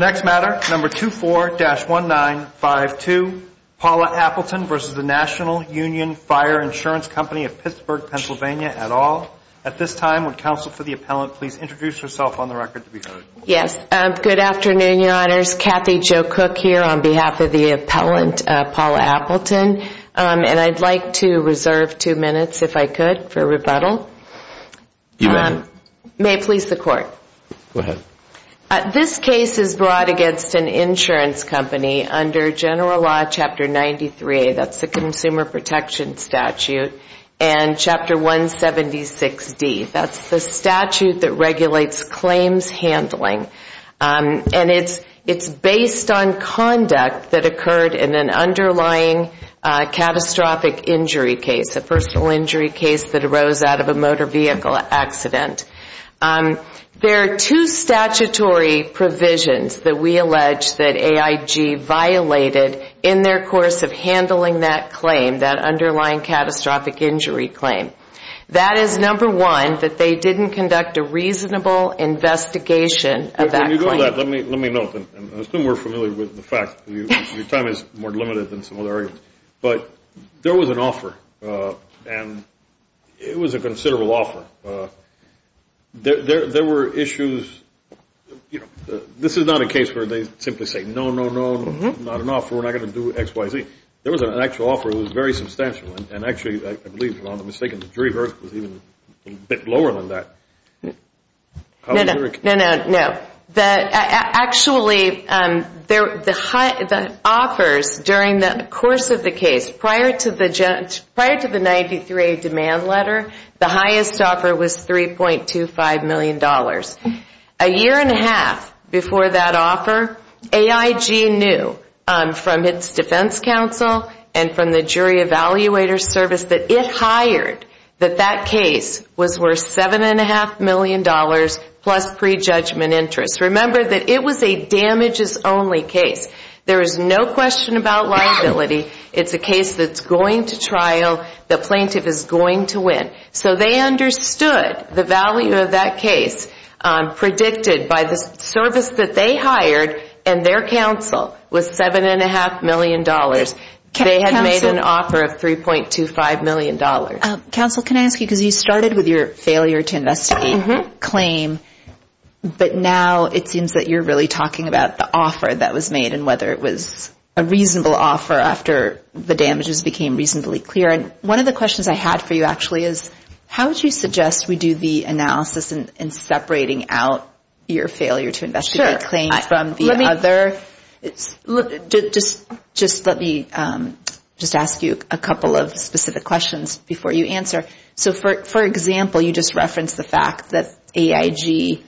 2-4-1952 Paula Appleton v. National Union Fire Ins. Co. of Pittsburgh, PA This case is brought against an insurance company under General Law 93A, the Consumer Protection Statute, and 176D, the statute that regulates claims handling. It's based on conduct that occurred in an underlying catastrophic injury case, a personal injury case that arose out of a motor vehicle accident. There are two statutory provisions that we allege that AIG violated in their course of handling that claim, that underlying catastrophic injury claim. That is, number one, that they didn't conduct a reasonable investigation of that claim. I assume we're familiar with the fact that your time is more limited than some other areas. But there was an offer, and it was a considerable offer. There were issues. This is not a case where they simply say, no, no, no, not an offer. We're not going to do X, Y, Z. There was an actual offer. It was very substantial, and actually, I believe, if I'm not mistaken, the jury verdict was even a bit lower than that. No, no, no. Actually, the offers during the course of the case prior to the 93A demand letter, the highest offer was $3.25 million. A year and a half before that offer, AIG knew from its defense counsel and from the jury evaluator service that if hired, that that case was worth $7.5 million plus prejudgment interest. Remember that it was a damages-only case. There is no question about liability. It's a case that's going to trial. The plaintiff is going to win. So they understood the value of that case predicted by the service that they hired and their counsel was $7.5 million. They had made an offer of $3.25 million. Counsel, can I ask you, because you started with your failure to investigate claim, but now it seems that you're really talking about the offer that was made and whether it was a reasonable offer after the damages became reasonably clear. One of the questions I had for you, actually, is how would you suggest we do the analysis in separating out your failure to investigate claim from the other? Just let me just ask you a couple of specific questions before you answer. So for example, you just referenced the fact that AIG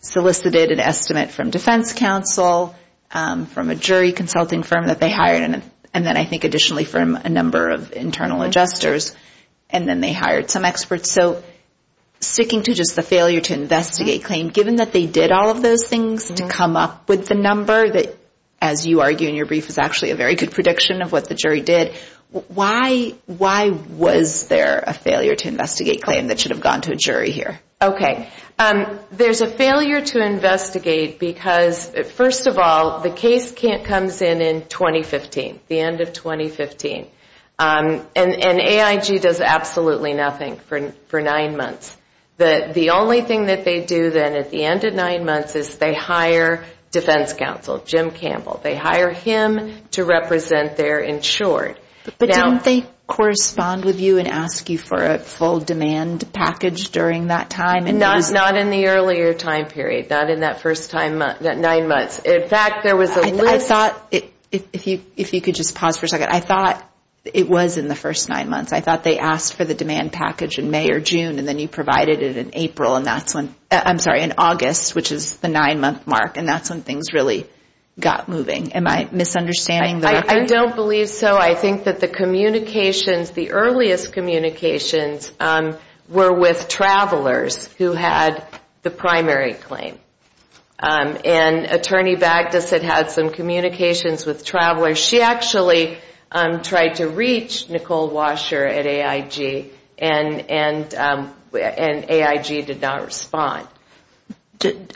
solicited an estimate from defense counsel, from a jury consulting firm that they hired, and then I think additionally from a number of internal adjusters, and then they hired some experts. So sticking to just the failure to investigate claim, given that they did all of those things to come up with the number that, as you argue in your brief, is actually a very good prediction of what the jury did, why was there a failure to investigate claim that should have gone to a jury here? Okay. There's a failure to investigate because, first of all, the case comes in in 2015, the end of 2015. And AIG does absolutely nothing for nine months. The only thing that they do then at the end of nine months is they hire defense counsel, Jim Campbell. They hire him to represent their insured. But don't they correspond with you and ask you for a full demand package during that time? Not in the earlier time period, not in that first nine months. In fact, there was a list. I thought, if you could just pause for a second, I thought it was in the first nine months. I thought they asked for the demand package in May or June, and then you provided it in April, and that's when, I'm sorry, in August, which is the nine-month mark, and that's when things really got moving. Am I misunderstanding the record? I don't believe so. I think that the communications, the earliest communications were with travelers who had the primary claim. And Attorney Bagduset had some communications with travelers. She actually tried to reach Nicole Washer at AIG, and AIG did not respond.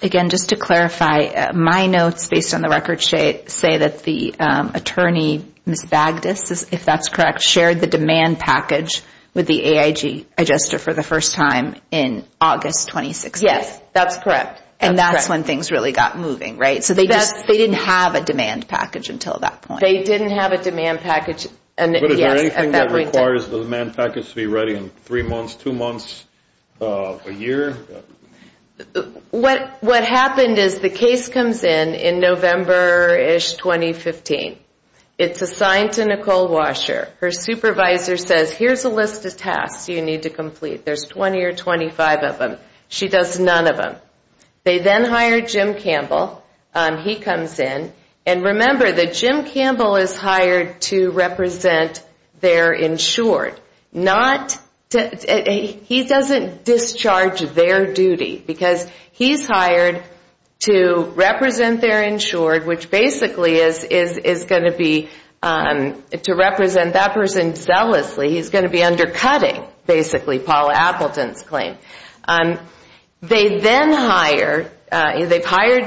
Again, just to clarify, my notes based on the record say that the attorney, Ms. Bagdus, if that's correct, shared the demand package with the AIG adjuster for the first time in August 2016. Yes, that's correct. And that's when things really got moving, right? So they didn't have a demand package until that point. They didn't have a demand package. But is there anything that requires the demand package to be ready in three months, two months, a year? What happened is the case comes in in November-ish 2015. It's assigned to Nicole Washer. Her supervisor says, here's a list of tasks you need to complete. There's 20 or 25 of them. She does none of them. They then hire Jim Campbell. He comes in. And remember that Jim Campbell is hired to represent their insured. He doesn't discharge their duty because he's hired to represent their insured, which basically is going to be to represent that person zealously. He's going to be undercutting, basically, Paula Appleton's claim. They then hire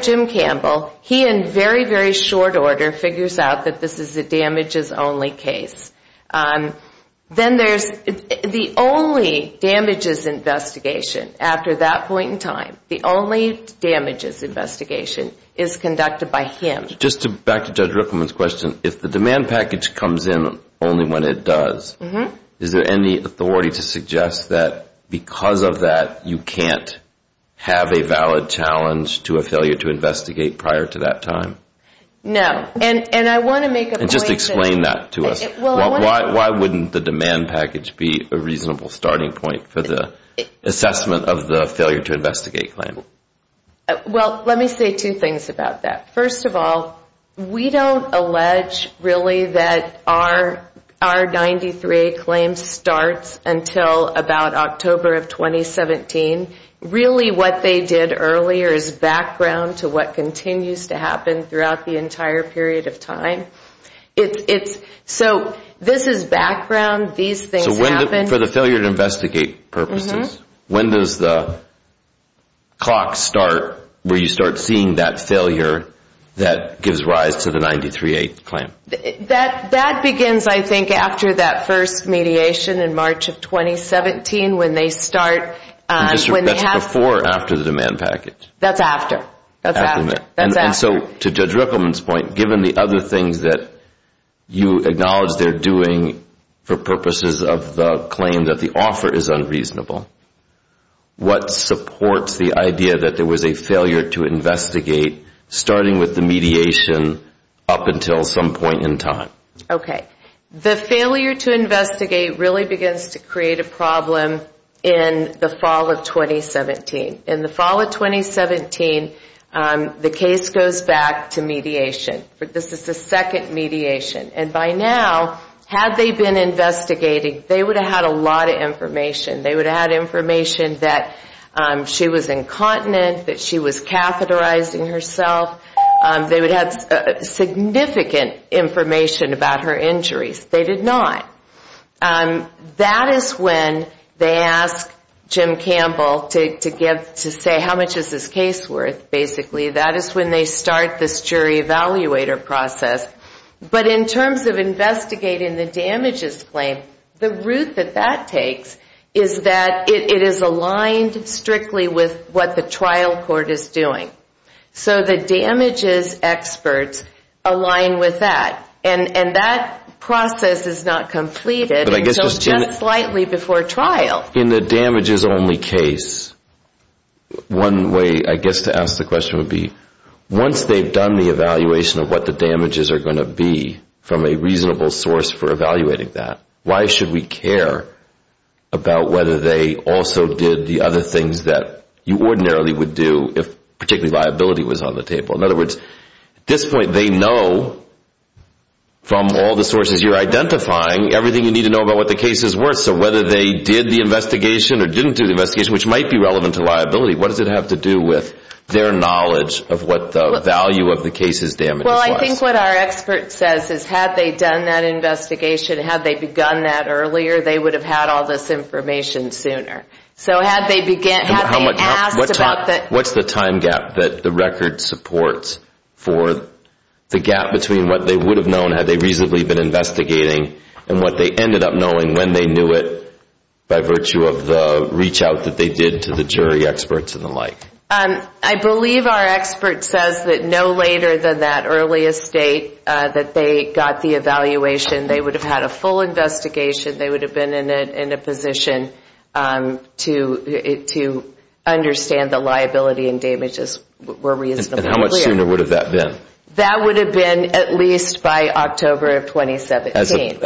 Jim Campbell. He, in very, very short order, figures out that this is a damages-only case. Then there's the only damages investigation. After that point in time, the only damages investigation is conducted by him. Just back to Judge Riffleman's question, if the demand package comes in only when it does, is there any authority to suggest that because of that, you can't have a valid challenge to a failure to investigate prior to that time? No. And I want to make a point. Just explain that to us. Why wouldn't the demand package be a reasonable starting point for the assessment of the failure to investigate claim? Well, let me say two things about that. First of all, we don't allege, really, that our 93A claim starts until about October of 2017. Really what they did earlier is background to what continues to happen throughout the entire period of time. So this is background. These things happen. So for the failure to investigate purposes, when does the clock start where you start seeing that failure that gives rise to the 93A claim? That begins, I think, after that first mediation in March of 2017 when they start. That's before or after the demand package? That's after. So to Judge Riffleman's point, given the other things that you acknowledge they're doing for purposes of the claim that the offer is unreasonable, what supports the idea that there was a failure to investigate, starting with the mediation, up until some point in time? Okay. The failure to investigate really begins to create a problem in the fall of 2017. In the fall of 2017, the case goes back to mediation. This is the second mediation. And by now, had they been investigating, they would have had a lot of information. They would have had information that she was incontinent, that she was catheterizing herself. They would have had significant information about her injuries. They did not. That is when they ask Jim Campbell to say how much is this case worth, basically. That is when they start this jury evaluator process. But in terms of investigating the damages claim, the route that that takes is that it is aligned strictly with what the trial court is doing. So the damages experts align with that. And that process is not completed until just slightly before trial. In the damages-only case, one way, I guess, to ask the question would be, once they've done the evaluation of what the damages are going to be from a reasonable source for evaluating that, why should we care about whether they also did the other things that you ordinarily would do if particularly liability was on the table? In other words, at this point they know from all the sources you're identifying everything you need to know about what the case is worth. So whether they did the investigation or didn't do the investigation, which might be relevant to liability, what does it have to do with their knowledge of what the value of the case's damages was? Well, I think what our expert says is had they done that investigation, had they begun that earlier, they would have had all this information sooner. So had they asked about the... What's the time gap that the record supports for the gap between what they would have known had they reasonably been investigating and what they ended up knowing when they knew it by virtue of the reach out that they did to the jury experts and the like? I believe our expert says that no later than that earliest date that they got the evaluation. They would have had a full investigation. They would have been in a position to understand the liability and damages were reasonable. And how much sooner would have that been? That would have been at least by October of 2017.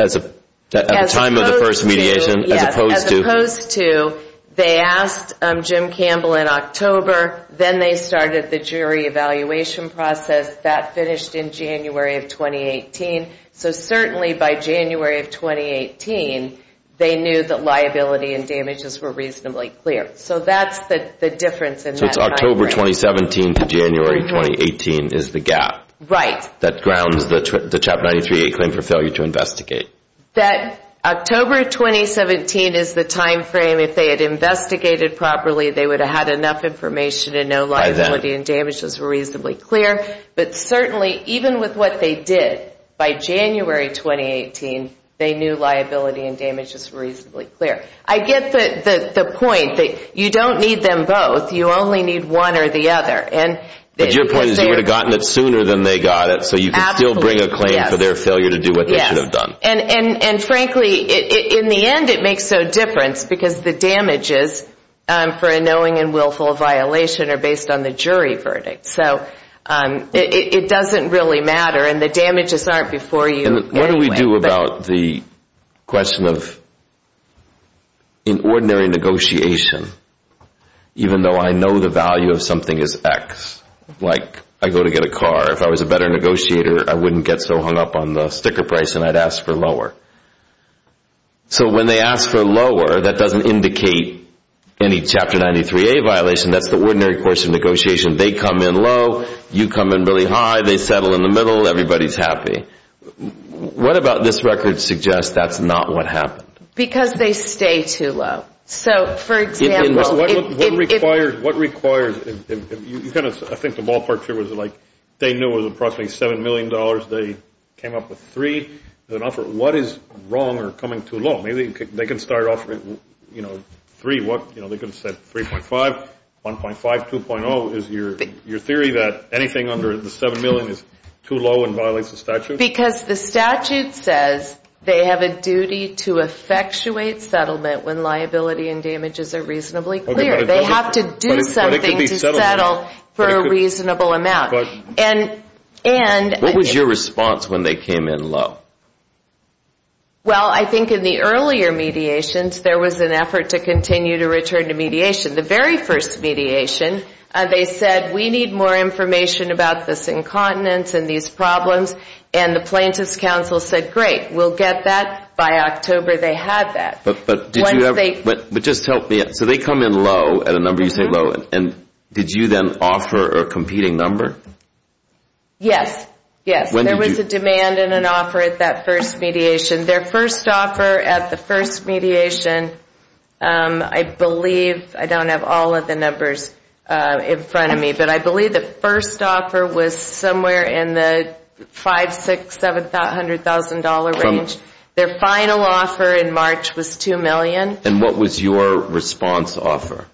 At the time of the first mediation? Yes, as opposed to they asked Jim Campbell in October, then they started the jury evaluation process. That finished in January of 2018. So certainly by January of 2018, they knew that liability and damages were reasonably clear. So that's the difference in that timeframe. So it's October 2017 to January 2018 is the gap. Right. That grounds the CHOP 93A claim for failure to investigate. That October 2017 is the timeframe. If they had investigated properly, they would have had enough information and know liability and damages were reasonably clear. But certainly even with what they did, by January 2018, they knew liability and damages were reasonably clear. I get the point that you don't need them both. You only need one or the other. But your point is you would have gotten it sooner than they got it, so you can still bring a claim for their failure to do what they should have done. And frankly, in the end, it makes no difference because the damages for a knowing and willful violation are based on the jury verdict. So it doesn't really matter, and the damages aren't before you anyway. What do we do about the question of in ordinary negotiation, even though I know the value of something is X? Like I go to get a car. If I was a better negotiator, I wouldn't get so hung up on the sticker price and I'd ask for lower. So when they ask for lower, that doesn't indicate any CHOP 93A violation. That's the ordinary course of negotiation. They come in low. You come in really high. They settle in the middle. Everybody's happy. What about this record suggests that's not what happened? Because they stay too low. So, for example... What requires, if you kind of, I think the ballpark here was like they knew it was approximately $7 million. They came up with 3. What is wrong or coming too low? Maybe they can start off with, you know, 3. They could have said 3.5, 1.5, 2.0. Is your theory that anything under the 7 million is too low and violates the statute? Because the statute says they have a duty to effectuate settlement when liability and damages are reasonably clear. They have to do something to settle for a reasonable amount. And... What was your response when they came in low? Well, I think in the earlier mediations, there was an effort to continue to return to mediation. The very first mediation, they said, we need more information about this incontinence and these problems. And the plaintiff's counsel said, great, we'll get that. But just help me out. So they come in low, at a number you say low. And did you then offer a competing number? Yes. Yes. There was a demand and an offer at that first mediation. Their first offer at the first mediation, I believe, I don't have all of the numbers in front of me, but I believe the first offer was somewhere in the $500,000, $600,000, $700,000 range. Their final offer in March was $2 million. And what was your response offer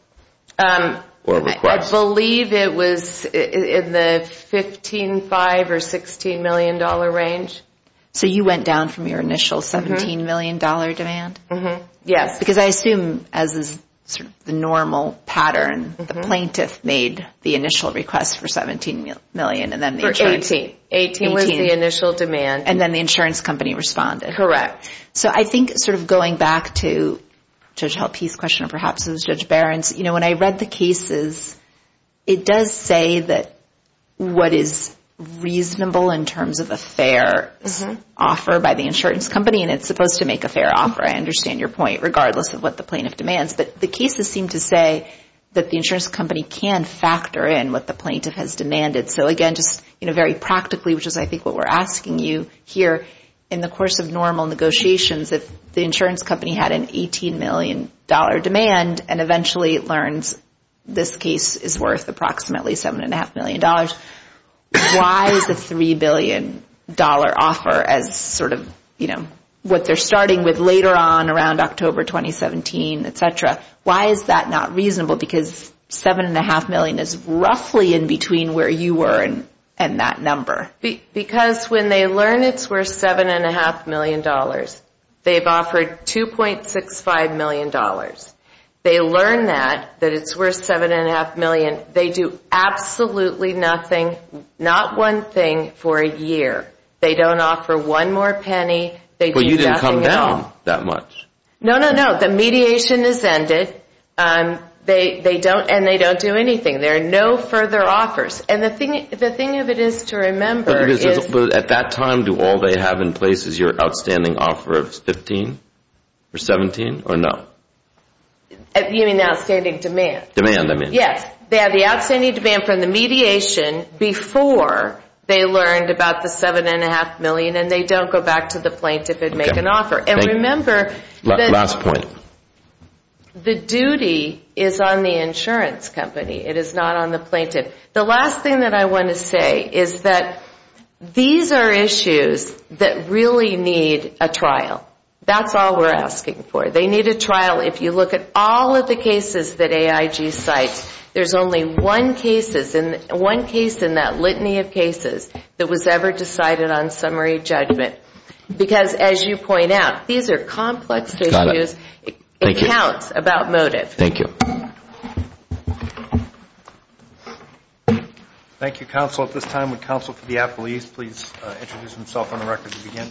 or request? I believe it was in the $15,000,000 or $16,000,000 range. So you went down from your initial $17,000,000 demand? Yes. Because I assume, as is the normal pattern, the plaintiff made the initial request for $17,000,000 and then the insurance... For $18,000,000. $18,000,000 was the initial demand. And then the insurance company responded. So I think sort of going back to Judge Halpe's question, or perhaps it was Judge Barron's, when I read the cases, it does say that what is reasonable in terms of a fair offer by the insurance company, and it's supposed to make a fair offer, I understand your point, regardless of what the plaintiff demands. But the cases seem to say that the insurance company can factor in what the plaintiff has demanded. So again, just very practically, which is I think what we're asking you here, in the course of normal negotiations, if the insurance company had an $18,000,000 demand and eventually learns this case is worth approximately $7.5 million, why is the $3 billion offer as sort of what they're starting with later on around October 2017, et cetera, why is that not reasonable? Because $7.5 million is roughly in between where you were and that number. Because when they learn it's worth $7.5 million, they've offered $2.65 million. They learn that, that it's worth $7.5 million, they do absolutely nothing, not one thing, for a year. They don't offer one more penny. But you didn't come down that much. No, no, no. The mediation has ended. And they don't do anything. There are no further offers. And the thing of it is to remember is... But at that time, do all they have in place is your outstanding offer of $15 or $17 or no? You mean outstanding demand? Demand, I mean. Yes. They have the outstanding demand from the mediation before they learned about the $7.5 million, and they don't go back to the plaintiff and make an offer. And remember... Last point. The duty is on the insurance company. It is not on the plaintiff. The last thing that I want to say is that these are issues that really need a trial. That's all we're asking for. They need a trial. If you look at all of the cases that AIG cites, there's only one case in that litany of cases that was ever decided on summary judgment. Because as you point out, these are complex issues. It counts about motive. Thank you. Thank you, counsel. At this time, would counsel for the appellees please introduce themselves on the record to begin?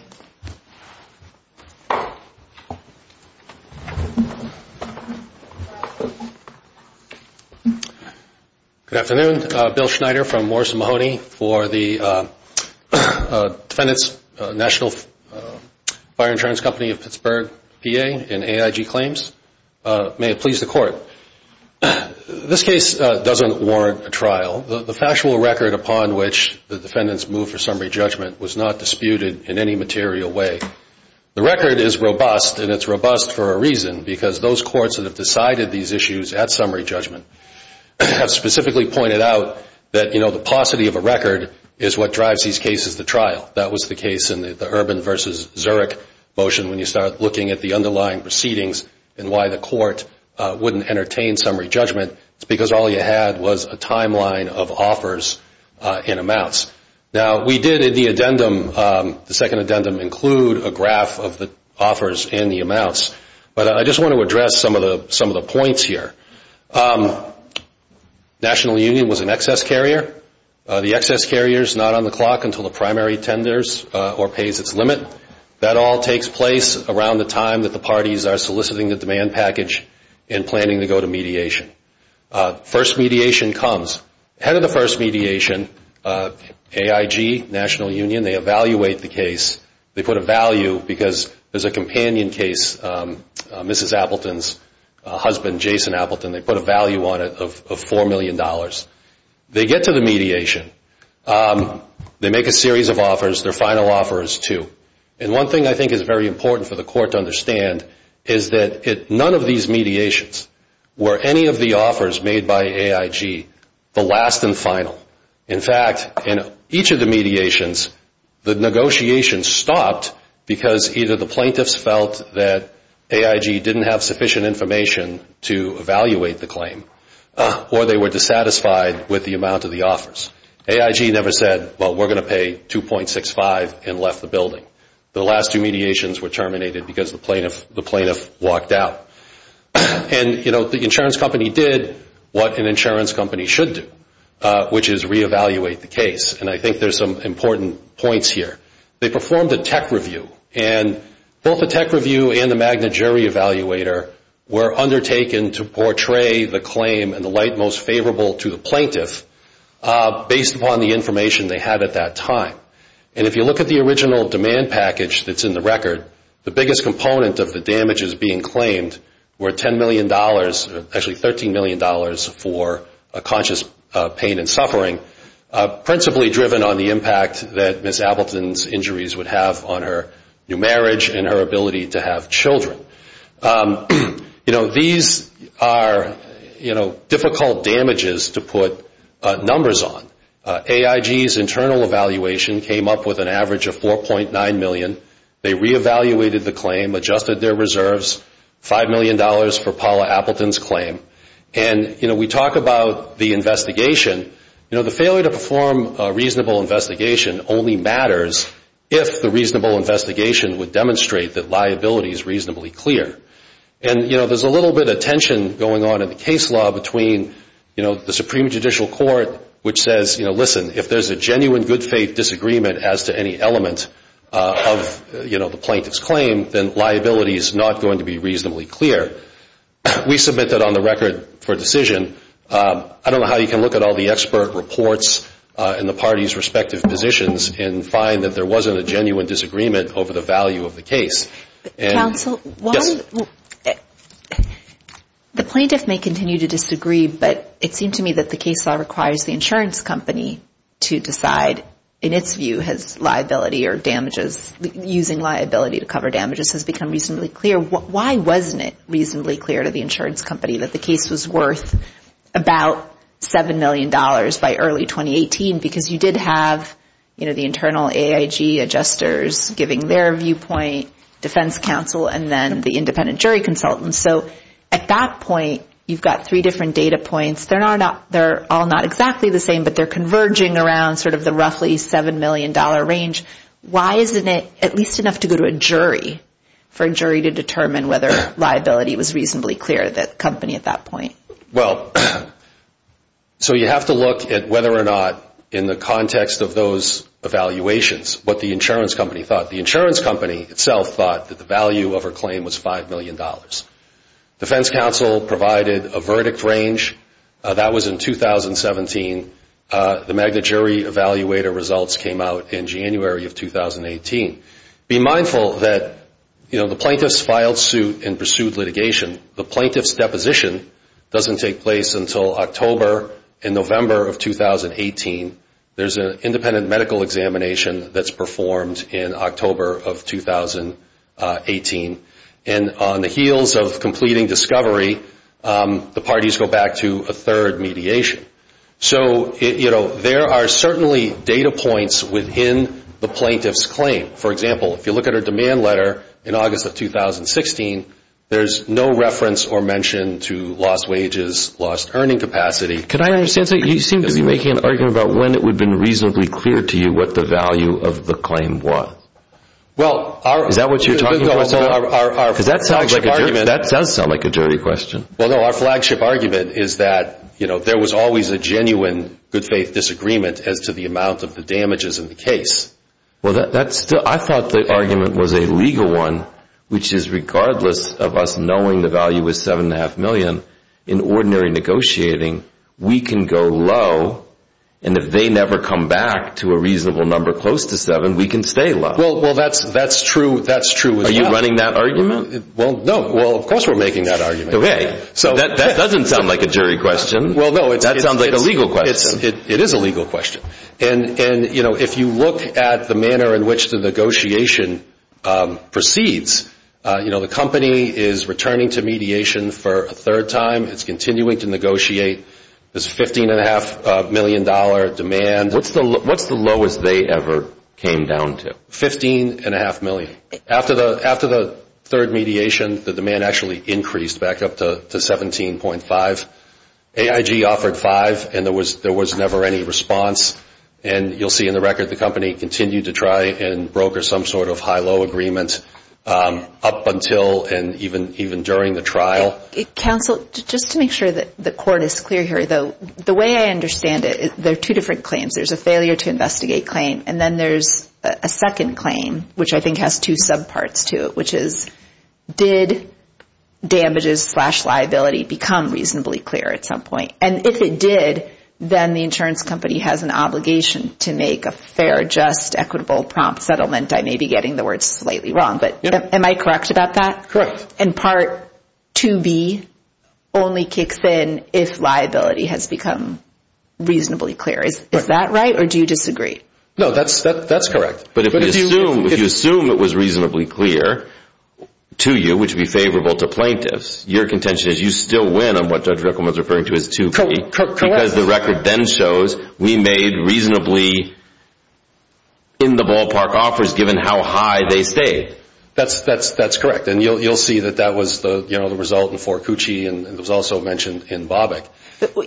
Good afternoon. I'm Bill Schneider from Morrison Mahoney for the National Fire Insurance Company of Pittsburgh, PA, and AIG Claims. May it please the Court. This case doesn't warrant a trial. The factual record upon which the defendants moved for summary judgment was not disputed in any material way. The record is robust, and it's robust for a reason, because those courts that have decided these issues at summary judgment have specifically pointed out that the paucity of a record is what drives these cases to trial. That was the case in the Urban v. Zurich motion. When you start looking at the underlying proceedings and why the court wouldn't entertain summary judgment, it's because all you had was a timeline of offers and amounts. Now, we did in the addendum, the second addendum, include a graph of the offers and the amounts, but I just want to address some of the points here. National Union was an excess carrier. The excess carrier is not on the clock until the primary tenders or pays its limit. That all takes place around the time that the parties are soliciting the demand package and planning to go to mediation. First mediation comes. Ahead of the first mediation, AIG, National Union, they evaluate the case. They put a value, because there's a companion case, Mrs. Appleton's husband, Jason Appleton. They put a value on it of $4 million. They get to the mediation. They make a series of offers. Their final offer is two. And one thing I think is very important for the court to understand is that none of these mediations were any of the offers made by AIG the last and final. In fact, in each of the mediations, the negotiations stopped because either the plaintiffs felt that AIG didn't have sufficient information to evaluate the claim or they were dissatisfied with the amount of the offers. AIG never said, well, we're going to pay $2.65 and left the building. The last two mediations were terminated because the plaintiff walked out. And, you know, the insurance company did what an insurance company should do, which is reevaluate the case. And I think there's some important points here. They performed a tech review. And both the tech review and the Magna Geri evaluator were undertaken to portray the claim and the light most favorable to the plaintiff based upon the information they had at that time. And if you look at the original demand package that's in the record, the biggest component of the damages being claimed were $10 million, actually $13 million for conscious pain and suffering, principally driven on the impact that Ms. Appleton's injuries would have on her new marriage and her ability to have children. You know, these are, you know, difficult damages to put numbers on. AIG's internal evaluation came up with an average of $4.9 million. They reevaluated the claim, adjusted their reserves, $5 million for Paula Appleton's claim. And, you know, we talk about the investigation. You know, the failure to perform a reasonable investigation only matters if the reasonable investigation would demonstrate that liability is reasonably clear. And, you know, there's a little bit of tension going on in the case law between, you know, the Supreme Judicial Court, which says, you know, listen, if there's a genuine good faith disagreement as to any element of, you know, the plaintiff's claim, then liability is not going to be reasonably clear. We submit that on the record for decision. I don't know how you can look at all the expert reports in the parties' respective positions and find that there wasn't a genuine disagreement over the value of the case. Counsel, while the plaintiff may continue to disagree, but it seemed to me that the case law requires the insurance company to decide, in its view, has liability or damages, using liability to cover damages has become reasonably clear. Why wasn't it reasonably clear to the insurance company that the case was worth about $7 million by early 2018? Because you did have, you know, the internal AIG adjusters giving their viewpoint, defense counsel, and then the independent jury consultants. So at that point, you've got three different data points. They're all not exactly the same, but they're converging around sort of the roughly $7 million range. Why isn't it at least enough to go to a jury for a jury to determine whether liability was reasonably clear to the company at that point? Well, so you have to look at whether or not, in the context of those evaluations, what the insurance company thought. The insurance company itself thought that the value of her claim was $5 million. Defense counsel provided a verdict range. That was in 2017. The Magna Jury Evaluator results came out in January of 2018. Be mindful that, you know, the plaintiffs filed suit and pursued litigation. The plaintiff's deposition doesn't take place until October and November of 2018. There's an independent medical examination that's performed in October of 2018. And on the heels of completing discovery, the parties go back to a third mediation. So, you know, there are certainly data points within the plaintiff's claim. For example, if you look at her demand letter in August of 2016, there's no reference or mention to lost wages, lost earning capacity. Could I understand, sir? You seem to be making an argument about when it would have been reasonably clear to you what the value of the claim was. Is that what you're talking about? Because that does sound like a dirty question. Well, no, our flagship argument is that, you know, there was always a genuine good faith disagreement as to the amount of the damages in the case. Well, I thought the argument was a legal one, which is regardless of us knowing the value was $7.5 million, in ordinary negotiating, we can go low. And if they never come back to a reasonable number close to $7, we can stay low. Well, that's true. Are you running that argument? Well, no. Well, of course we're making that argument. That doesn't sound like a jury question. That sounds like a legal question. It is a legal question. And, you know, if you look at the manner in which the negotiation proceeds, you know, the company is returning to mediation for a third time. It's continuing to negotiate this $15.5 million demand. What's the lowest they ever came down to? $15.5 million. After the third mediation, the demand actually increased back up to $17.5. AIG offered $5, and there was never any response. And you'll see in the record the company continued to try and broker some sort of high-low agreement up until and even during the trial. Counsel, just to make sure that the court is clear here, the way I understand it, there are two different claims. There's a failure to investigate claim, and then there's a second claim, which I think has two subparts to it, which is did damages slash liability become reasonably clear at some point? And if it did, then the insurance company has an obligation to make a fair, just, equitable, prompt settlement. I may be getting the words slightly wrong, but am I correct about that? Correct. And Part 2B only kicks in if liability has become reasonably clear. Is that right, or do you disagree? No, that's correct. But if you assume it was reasonably clear to you, which would be favorable to plaintiffs, your contention is you still win on what Judge Ruckelman is referring to as 2B, because the record then shows we made reasonably in-the-ballpark offers given how high they stayed. That's correct. And you'll see that that was the result in Forcucci, and it was also mentioned in Bobick.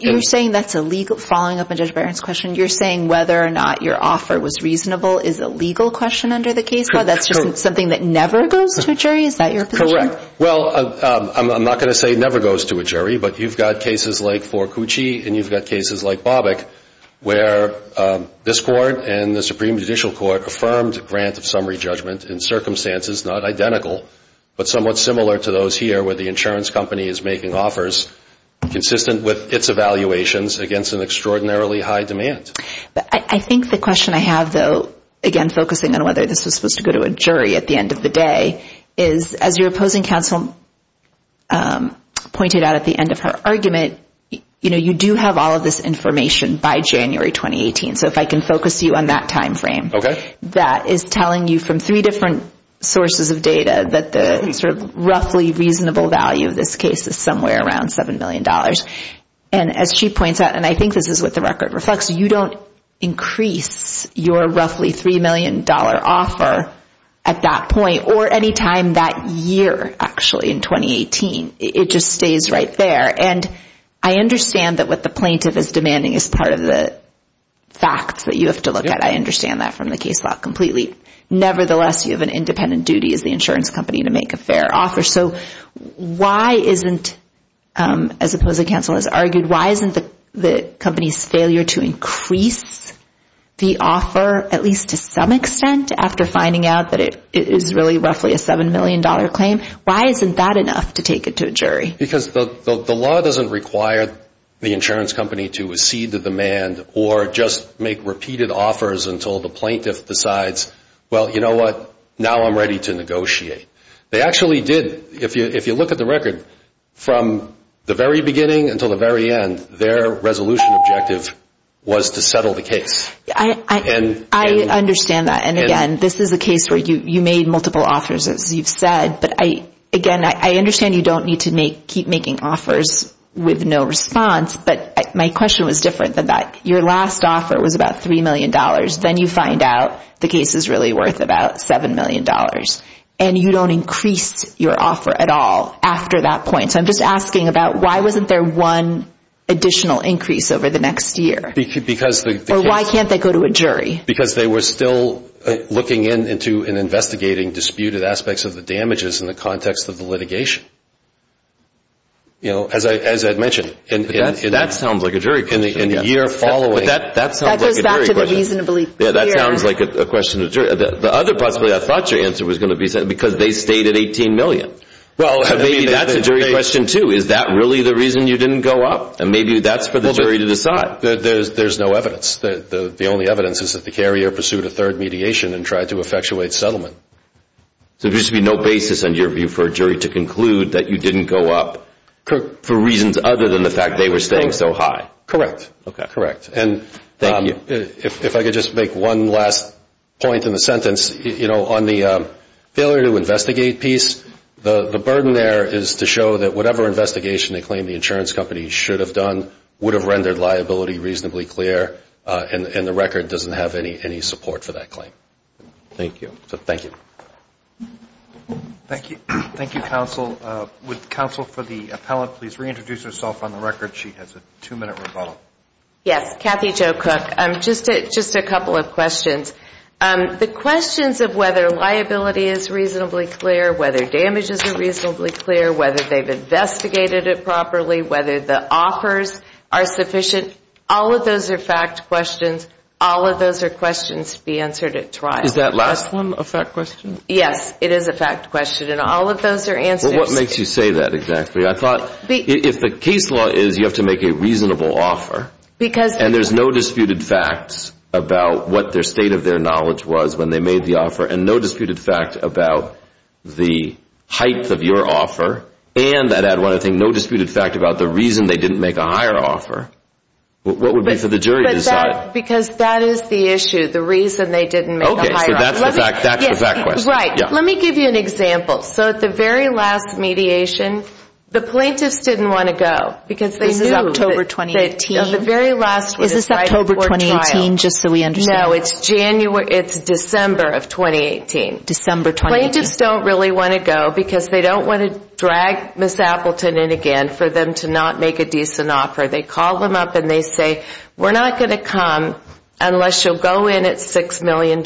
You're saying that's a legal – following up on Judge Barron's question, you're saying whether or not your offer was reasonable is a legal question under the case law? That's just something that never goes to a jury? Is that your position? Correct. Well, I'm not going to say it never goes to a jury, but you've got cases like Forcucci, and you've got cases like Bobick, where this Court and the Supreme Judicial Court have affirmed grant of summary judgment in circumstances not identical, but somewhat similar to those here where the insurance company is making offers consistent with its evaluations against an extraordinarily high demand. I think the question I have, though, again focusing on whether this was supposed to go to a jury at the end of the day, is as your opposing counsel pointed out at the end of her argument, you do have all of this information by January 2018. So if I can focus you on that timeframe. That is telling you from three different sources of data that the sort of roughly reasonable value of this case is somewhere around $7 million. And as she points out, and I think this is what the record reflects, you don't increase your roughly $3 million offer at that point or any time that year, actually, in 2018. It just stays right there. And I understand that what the plaintiff is demanding is part of the facts that you have to look at. I understand that from the case law completely. Nevertheless, you have an independent duty as the insurance company to make a fair offer. So why isn't, as opposing counsel has argued, why isn't the company's failure to increase the offer, at least to some extent after finding out that it is really roughly a $7 million claim, why isn't that enough to take it to a jury? Because the law doesn't require the insurance company to accede to demand or just make repeated offers until the plaintiff decides, well, you know what, now I'm ready to negotiate. They actually did. If you look at the record, from the very beginning until the very end, their resolution objective was to settle the case. I understand that. And again, this is a case where you made multiple offers, as you've said. But, again, I understand you don't need to keep making offers with no response. But my question was different than that. Your last offer was about $3 million. Then you find out the case is really worth about $7 million. And you don't increase your offer at all after that point. So I'm just asking about why wasn't there one additional increase over the next year? Or why can't they go to a jury? Because they were still looking into and investigating disputed aspects of the damages in the context of the litigation, as I had mentioned. That sounds like a jury question. In the year following. That goes back to the reasonably clear. Yeah, that sounds like a question to the jury. The other possibility I thought your answer was going to be because they stayed at $18 million. Well, maybe that's a jury question too. Is that really the reason you didn't go up? And maybe that's for the jury to decide. There's no evidence. The only evidence is that the carrier pursued a third mediation and tried to effectuate settlement. So there used to be no basis under your view for a jury to conclude that you didn't go up for reasons other than the fact they were staying so high. Correct. Thank you. If I could just make one last point in the sentence. On the failure to investigate piece, the burden there is to show that whatever investigation they claim the insurance company should have done would have rendered liability reasonably clear, and the record doesn't have any support for that claim. Thank you. Thank you. Thank you, counsel. Would counsel for the appellant please reintroduce herself on the record? She has a two-minute rebuttal. Yes, Kathy Jo Cook. Just a couple of questions. The questions of whether liability is reasonably clear, whether damages are reasonably clear, whether they've investigated it properly, whether the offers are sufficient, all of those are fact questions. All of those are questions to be answered at trial. Is that last one a fact question? Yes, it is a fact question, and all of those are answers. Well, what makes you say that exactly? I thought if the case law is you have to make a reasonable offer, and there's no disputed facts about what their state of their knowledge was when they made the offer, and no disputed fact about the height of your offer, and that add one, I think, no disputed fact about the reason they didn't make a higher offer, what would be for the jury to decide? Because that is the issue, the reason they didn't make a higher offer. Okay, so that's the fact question. Right. Let me give you an example. So at the very last mediation, the plaintiffs didn't want to go. Because this is October 2018. At the very last trial. Is this October 2018, just so we understand? No, it's December of 2018. December 2018. Plaintiffs don't really want to go because they don't want to drag Ms. Appleton in again for them to not make a decent offer. They call them up and they say, we're not going to come unless you'll go in at $6 million.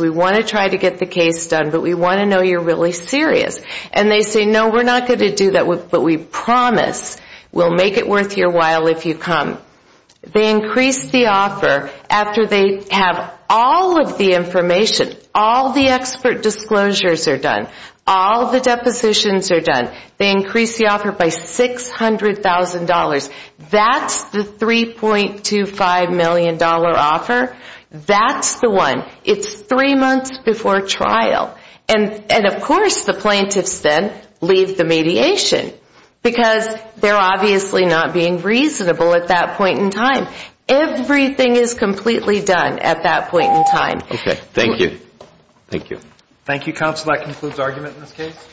We want to try to get the case done, but we want to know you're really serious. And they say, no, we're not going to do that, but we promise we'll make it worth your while if you come. They increase the offer after they have all of the information, all the expert disclosures are done, all the depositions are done. They increase the offer by $600,000. That's the $3.25 million offer. That's the one. It's three months before trial. And, of course, the plaintiffs then leave the mediation because they're obviously not being reasonable at that point in time. Everything is completely done at that point in time. Okay, thank you. Thank you. Thank you, counsel. That concludes argument in this case.